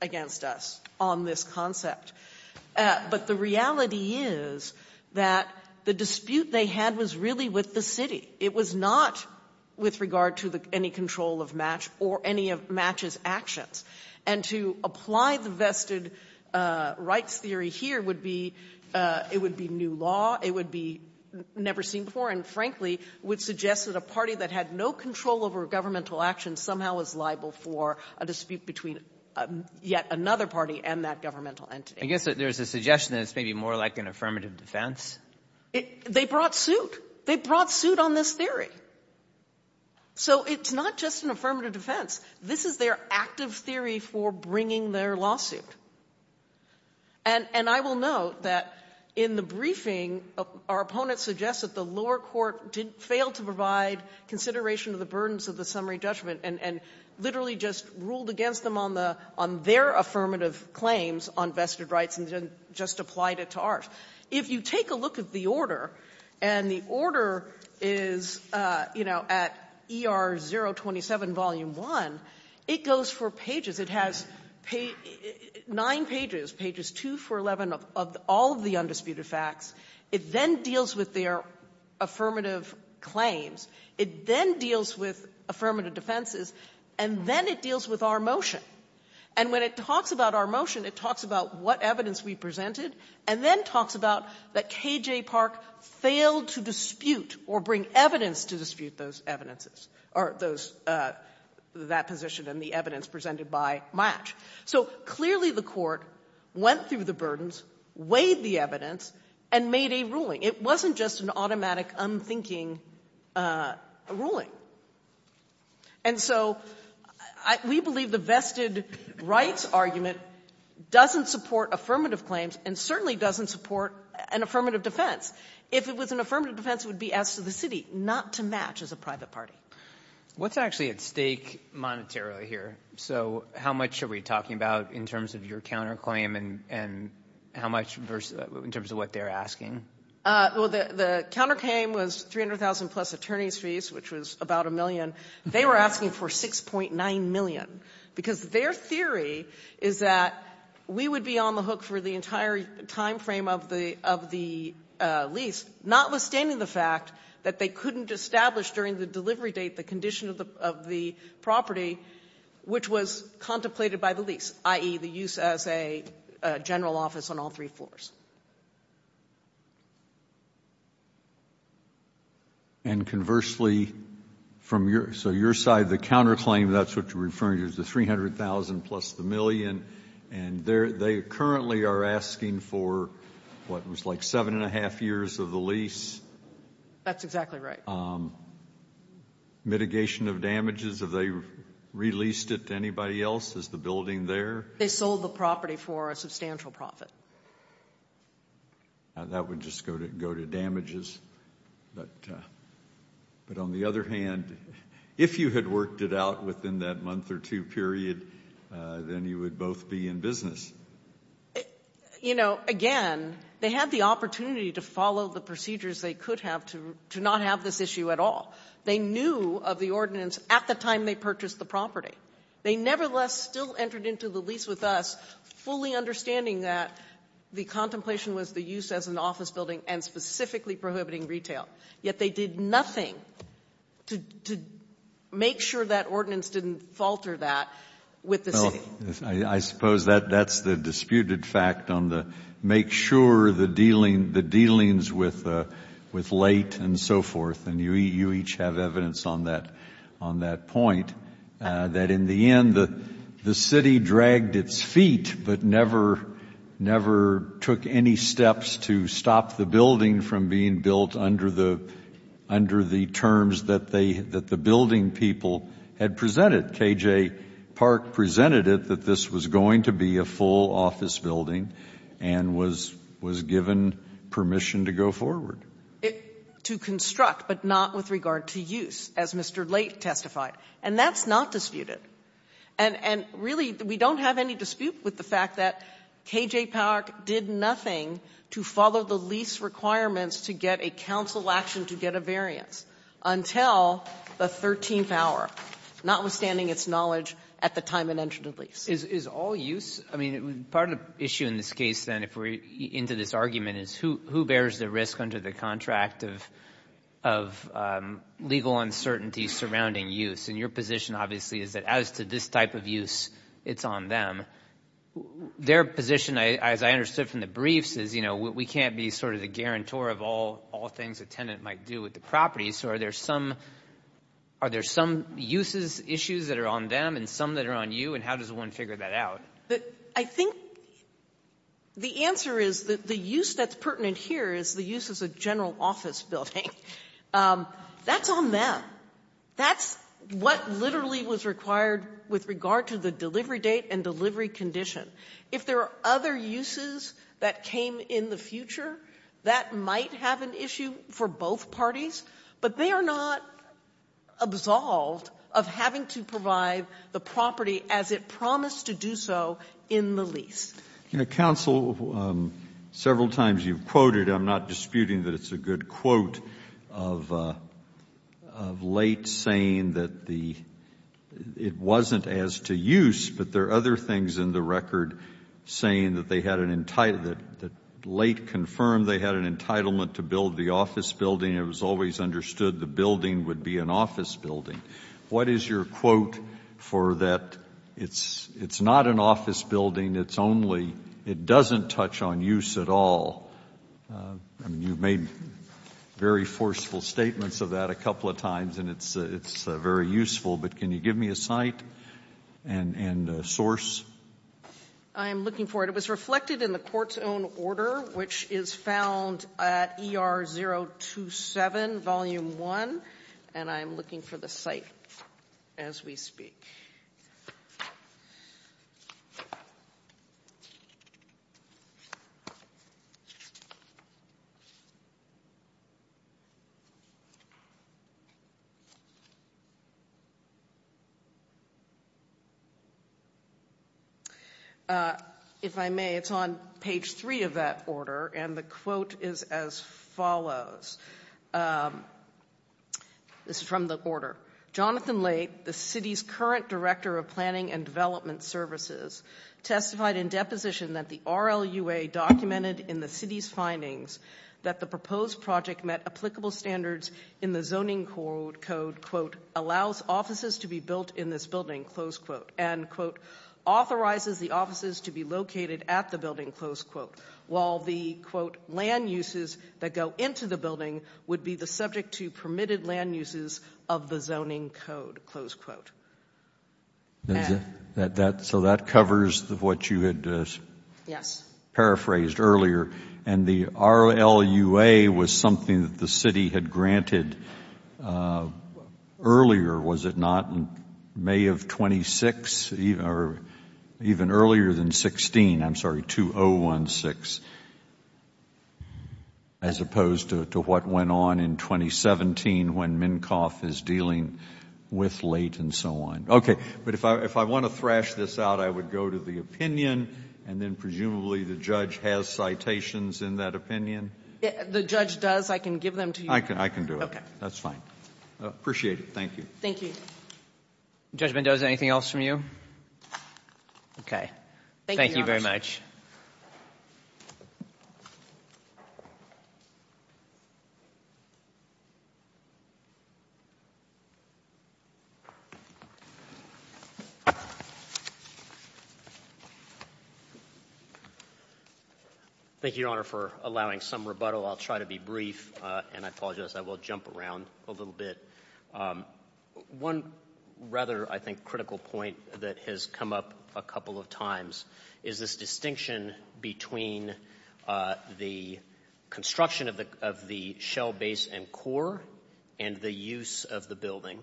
against us on this concept. But the reality is that the dispute they had was really with the city. It was not with regard to any control of match or any of match's actions. And to apply the vested rights theory here would be, it would be new law. It would be never seen before and, frankly, would suggest that a party that had no control over governmental actions somehow was liable for a dispute between yet another party and that governmental entity. I guess there's a suggestion that it's maybe more like an affirmative defense. They brought suit. They brought suit on this theory. So it's not just an affirmative defense. This is their active theory for bringing their lawsuit. And I will note that in the briefing, our opponents suggest that the lower court failed to provide consideration of the burdens of the summary judgment and literally just ruled against them on their affirmative claims on vested rights and just applied it to ours. If you take a look at the order, and the order is, you know, at ER 027, Volume 1, it goes for pages. It has nine pages, pages 2 through 11 of all of the undisputed facts. It then deals with their affirmative claims. It then deals with affirmative defenses. And then it deals with our motion. And when it talks about our motion, it talks about what evidence we presented and then talks about that K.J. Park failed to dispute or bring evidence to dispute those evidences or those that position and the evidence presented by match. So clearly the court went through the burdens, weighed the evidence, and made a ruling. It wasn't just an automatic, unthinking ruling. And so we believe the vested rights argument doesn't support affirmative claims and certainly doesn't support an affirmative defense. If it was an affirmative defense, it would be as to the city, not to match as a private party. What's actually at stake monetarily here? So how much are we talking about in terms of your counterclaim and how much in terms of what they're asking? Well, the counterclaim was $300,000 plus attorney's fees, which was about a million. They were asking for $6.9 million because their theory is that we would be on the hook for the entire time frame of the lease, notwithstanding the fact that they couldn't establish during the delivery date the condition of the property, which was contemplated by the lease, i.e., the use as a general office on all three floors. And conversely, so your side, the counterclaim, that's what you're referring to, is the $300,000 plus the million. And they currently are asking for what was like seven and a half years of the lease. That's exactly right. Mitigation of damages, have they released it to anybody else? Is the building there? They sold the property for a substantial profit. That would just go to damages. But on the other hand, if you had worked it out within that month or two period, then you would both be in business. You know, again, they had the opportunity to follow the procedures they could have to not have this issue at all. They knew of the ordinance at the time they purchased the property. They nevertheless still entered into the lease with us fully understanding that the contemplation was the use as an office building and specifically prohibiting retail. Yet they did nothing to make sure that ordinance didn't falter that with the city. Well, I suppose that's the disputed fact on the make sure the dealings with late and so forth, and you each have evidence on that point, that in the end the city dragged its feet but never took any steps to stop the building from being built under the terms that the building people had presented. K.J. Park presented it that this was going to be a full office building and was given permission to go forward. To construct, but not with regard to use, as Mr. Late testified. And that's not disputed. And really, we don't have any dispute with the fact that K.J. Park did nothing to follow the lease requirements to get a council action to get a variance until the 13th hour, notwithstanding its knowledge at the time it entered the lease. Is all use? I mean, part of the issue in this case, then, if we're into this argument, is who bears the risk under the contract of legal uncertainty surrounding use? And your position, obviously, is that as to this type of use, it's on them. Their position, as I understood from the briefs, is, you know, we can't be sort of the property, so are there some uses, issues that are on them and some that are on you? And how does one figure that out? I think the answer is that the use that's pertinent here is the use as a general office building. That's on them. That's what literally was required with regard to the delivery date and delivery condition. If there are other uses that came in the future, that might have an issue for both parties. But they are not absolved of having to provide the property as it promised to do so in the lease. You know, counsel, several times you've quoted, I'm not disputing that it's a good quote, of Late saying that the — it wasn't as to use, but there are other things in the record saying that they had an — that Late confirmed they had an entitlement to build the office building. It was always understood the building would be an office building. What is your quote for that? It's not an office building. It's only — it doesn't touch on use at all. I mean, you've made very forceful statements of that a couple of times, and it's very useful, but can you give me a site and source? I am looking for it. It was reflected in the court's own order, which is found at ER 027, Volume 1, and I am looking for the site as we speak. If I may, it's on page 3 of that order, and the quote is as follows. This is from the order. Jonathan Late, the city's current director of planning and development services, testified in deposition that the RLUA documented in the city's findings that the proposed project met applicable standards in the zoning code, quote, allows offices to be built in this building, close quote, and, quote, authorizes the offices to be located at the building, close quote, while the, quote, land uses that go into the building would be the subject to permitted land uses of the zoning code, close quote. So that covers what you had paraphrased earlier, and the RLUA was something that the city had granted earlier, was it not, in May of 26, or even earlier than 16, I'm sorry, 2016, as opposed to what went on in 2017 when MnCOF is dealing with late and so on. Okay. But if I want to thrash this out, I would go to the opinion, and then presumably the judge has citations in that opinion. The judge does. I can give them to you. I can do it. Okay. That's fine. Appreciate it. Thank you. Thank you. Judge Mendoza, anything else from you? Okay. Thank you very much. Thank you, Your Honor. Thank you. Thank you, Your Honor, for allowing some rebuttal. I'll try to be brief, and I apologize, I will jump around a little bit. One rather, I think, critical point that has come up a couple of times is this distinction between the construction of the shell base and core and the use of the building.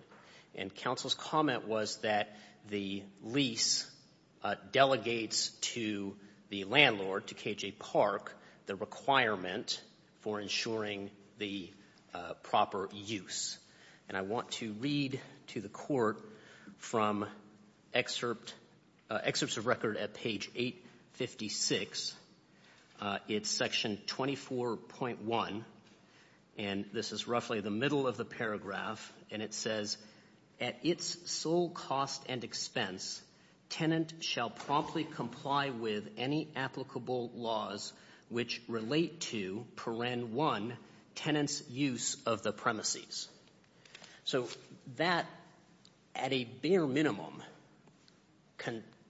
And counsel's comment was that the lease delegates to the landlord, to KJ Park, the requirement for ensuring the proper use. And I want to read to the court from excerpts of record at page 856. It's section 24.1, and this is roughly the middle of the paragraph. And it says, at its sole cost and expense, tenant shall promptly comply with any applicable laws which relate to, paren one, tenant's use of the premises. So that, at a bare minimum,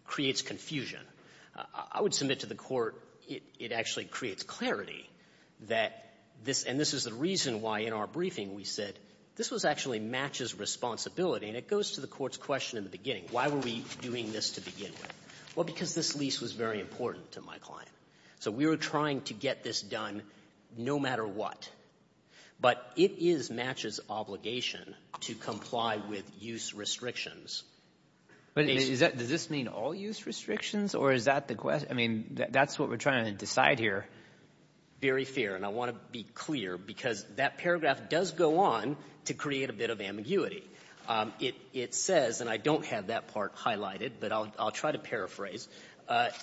creates confusion. I would submit to the court it actually creates clarity that this, and this is the reason why in our briefing we said this actually matches responsibility, and it goes to the court's question in the beginning. Why were we doing this to begin with? Well, because this lease was very important to my client. So we were trying to get this done no matter what. But it is Match's obligation to comply with use restrictions. But does this mean all use restrictions, or is that the question? I mean, that's what we're trying to decide here. Very fair. And I want to be clear because that paragraph does go on to create a bit of ambiguity. It says, and I don't have that part highlighted, but I'll try to paraphrase,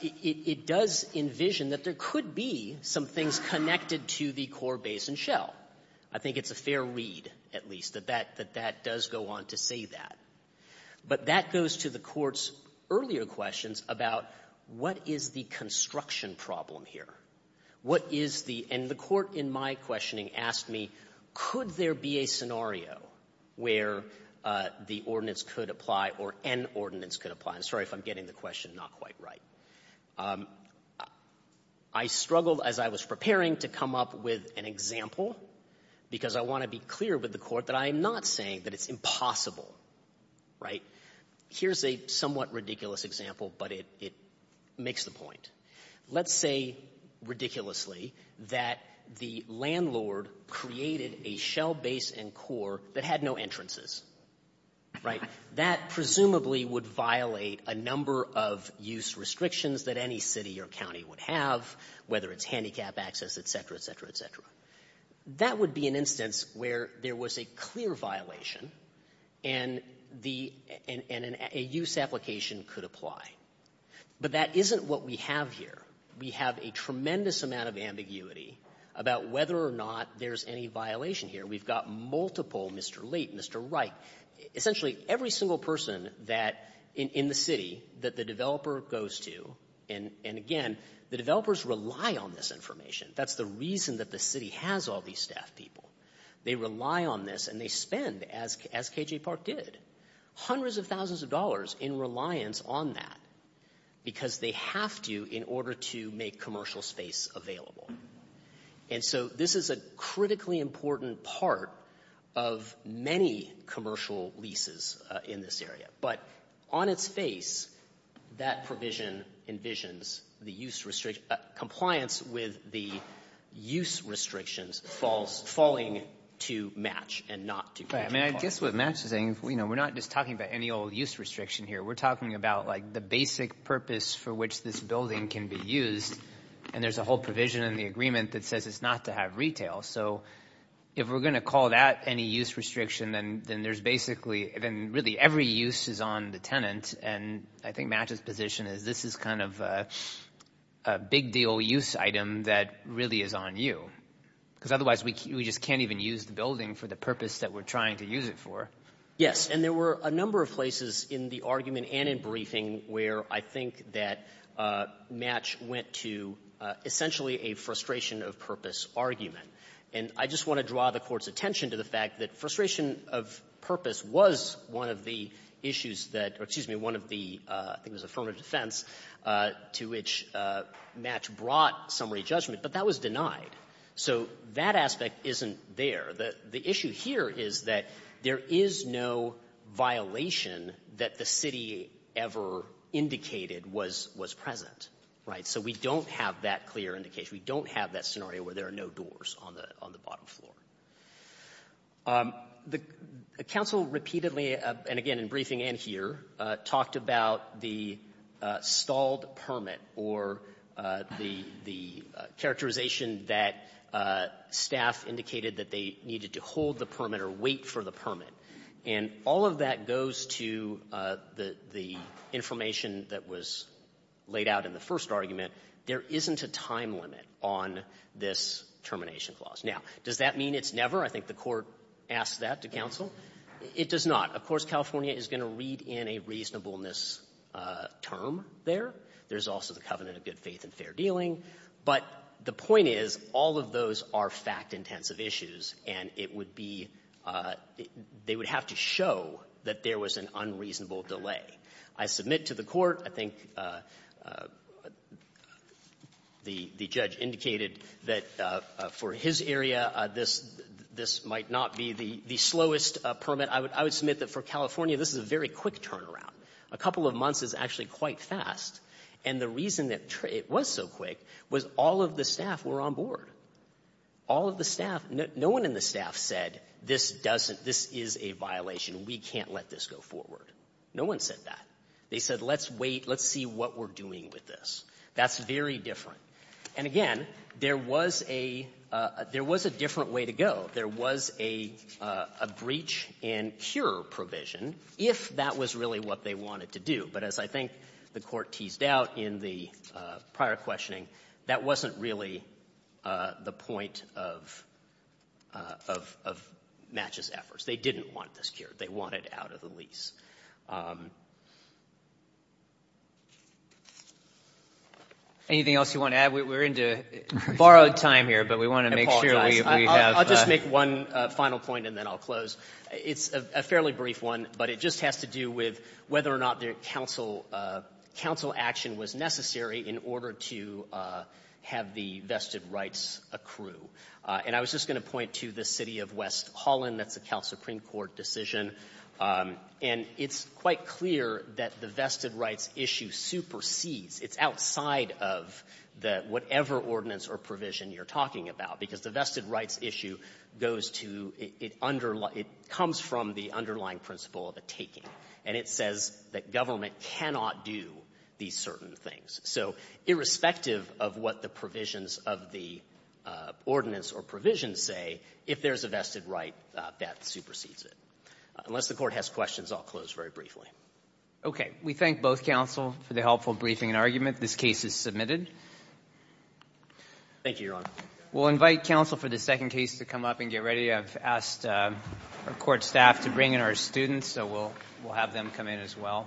it does envision that there could be some things connected to the core base and shell. I think it's a fair read, at least, that that does go on to say that. But that goes to the court's earlier questions about what is the construction problem here? What is the — and the court in my questioning asked me, could there be a scenario where the ordinance could apply or an ordinance could apply? I'm sorry if I'm getting the question not quite right. I struggled as I was preparing to come up with an example because I want to be clear with the court that I am not saying that it's impossible, right? Here's a somewhat ridiculous example, but it makes the point. Let's say, ridiculously, that the landlord created a shell base and core that had no entrances, right? That presumably would violate a number of use restrictions that any city or county would have, whether it's handicap access, et cetera, et cetera, et cetera. That would be an instance where there was a clear violation and a use application could apply. But that isn't what we have here. We have a tremendous amount of ambiguity about whether or not there's any violation here. We've got multiple Mr. Late, Mr. Wright, essentially every single person that — in the city that the developer goes to. And again, the developers rely on this information. That's the reason that the city has all these staff people. They rely on this and they spend, as K.J. pointed out, a tremendous amount of time and resources on that because they have to in order to make commercial space available. And so this is a critically important part of many commercial leases in this area. But on its face, that provision envisions the use restriction — compliance with the use restrictions falling to match and not to match. Right. I mean, I guess what match is saying, you know, we're not just talking about any general use restriction here. We're talking about, like, the basic purpose for which this building can be used. And there's a whole provision in the agreement that says it's not to have retail. So if we're going to call that any use restriction, then there's basically — then really every use is on the tenant. And I think Matt's position is this is kind of a big deal use item that really is on you because otherwise we just can't even use the building for the purpose that we're trying to use it for. Yes. And there were a number of places in the argument and in briefing where I think that match went to essentially a frustration of purpose argument. And I just want to draw the Court's attention to the fact that frustration of purpose was one of the issues that — or, excuse me, one of the — I think it was affirmative defense to which match brought summary judgment, but that was denied. So that aspect isn't there. The issue here is that there is no violation that the city ever indicated was present. Right? So we don't have that clear indication. We don't have that scenario where there are no doors on the bottom floor. The counsel repeatedly, and again in briefing and here, talked about the stalled or wait for the permit. And all of that goes to the information that was laid out in the first argument. There isn't a time limit on this termination clause. Now, does that mean it's never? I think the Court asked that to counsel. It does not. Of course, California is going to read in a reasonableness term there. There's also the covenant of good faith and fair dealing. But the point is, all of those are fact-intensive issues, and it would be — they would have to show that there was an unreasonable delay. I submit to the Court, I think the judge indicated that for his area, this might not be the slowest permit. I would submit that for California, this is a very quick turnaround. A couple of months is actually quite fast. And the reason that it was so quick was all of the staff were on board. All of the staff — no one in the staff said, this doesn't — this is a violation. We can't let this go forward. No one said that. They said, let's wait. Let's see what we're doing with this. That's very different. And again, there was a — there was a different way to go. There was a breach and cure provision, if that was really what they wanted to do. But as I think the Court teased out in the prior questioning, that wasn't really the point of Match's efforts. They didn't want this cured. They wanted out of the lease. Anything else you want to add? We're into borrowed time here, but we want to make sure we have — I'll just make one final point, and then I'll close. It's a fairly brief one, but it just has to do with whether or not the council action was necessary in order to have the vested rights accrue. And I was just going to point to the city of West Holland. That's a Cal Supreme Court decision. And it's quite clear that the vested rights issue supersedes. It's outside of the — whatever ordinance or provision you're talking about, because the vested rights issue goes to — it comes from the underlying principle of a taking. And it says that government cannot do these certain things. So irrespective of what the provisions of the ordinance or provision say, if there's a vested right, that supersedes it. Unless the Court has questions, I'll close very briefly. We thank both counsel for the helpful briefing and argument. This case is submitted. Thank you, Your Honor. We'll invite counsel for the second case to come up and get ready. I've asked our court staff to bring in our students, so we'll have them come in as well.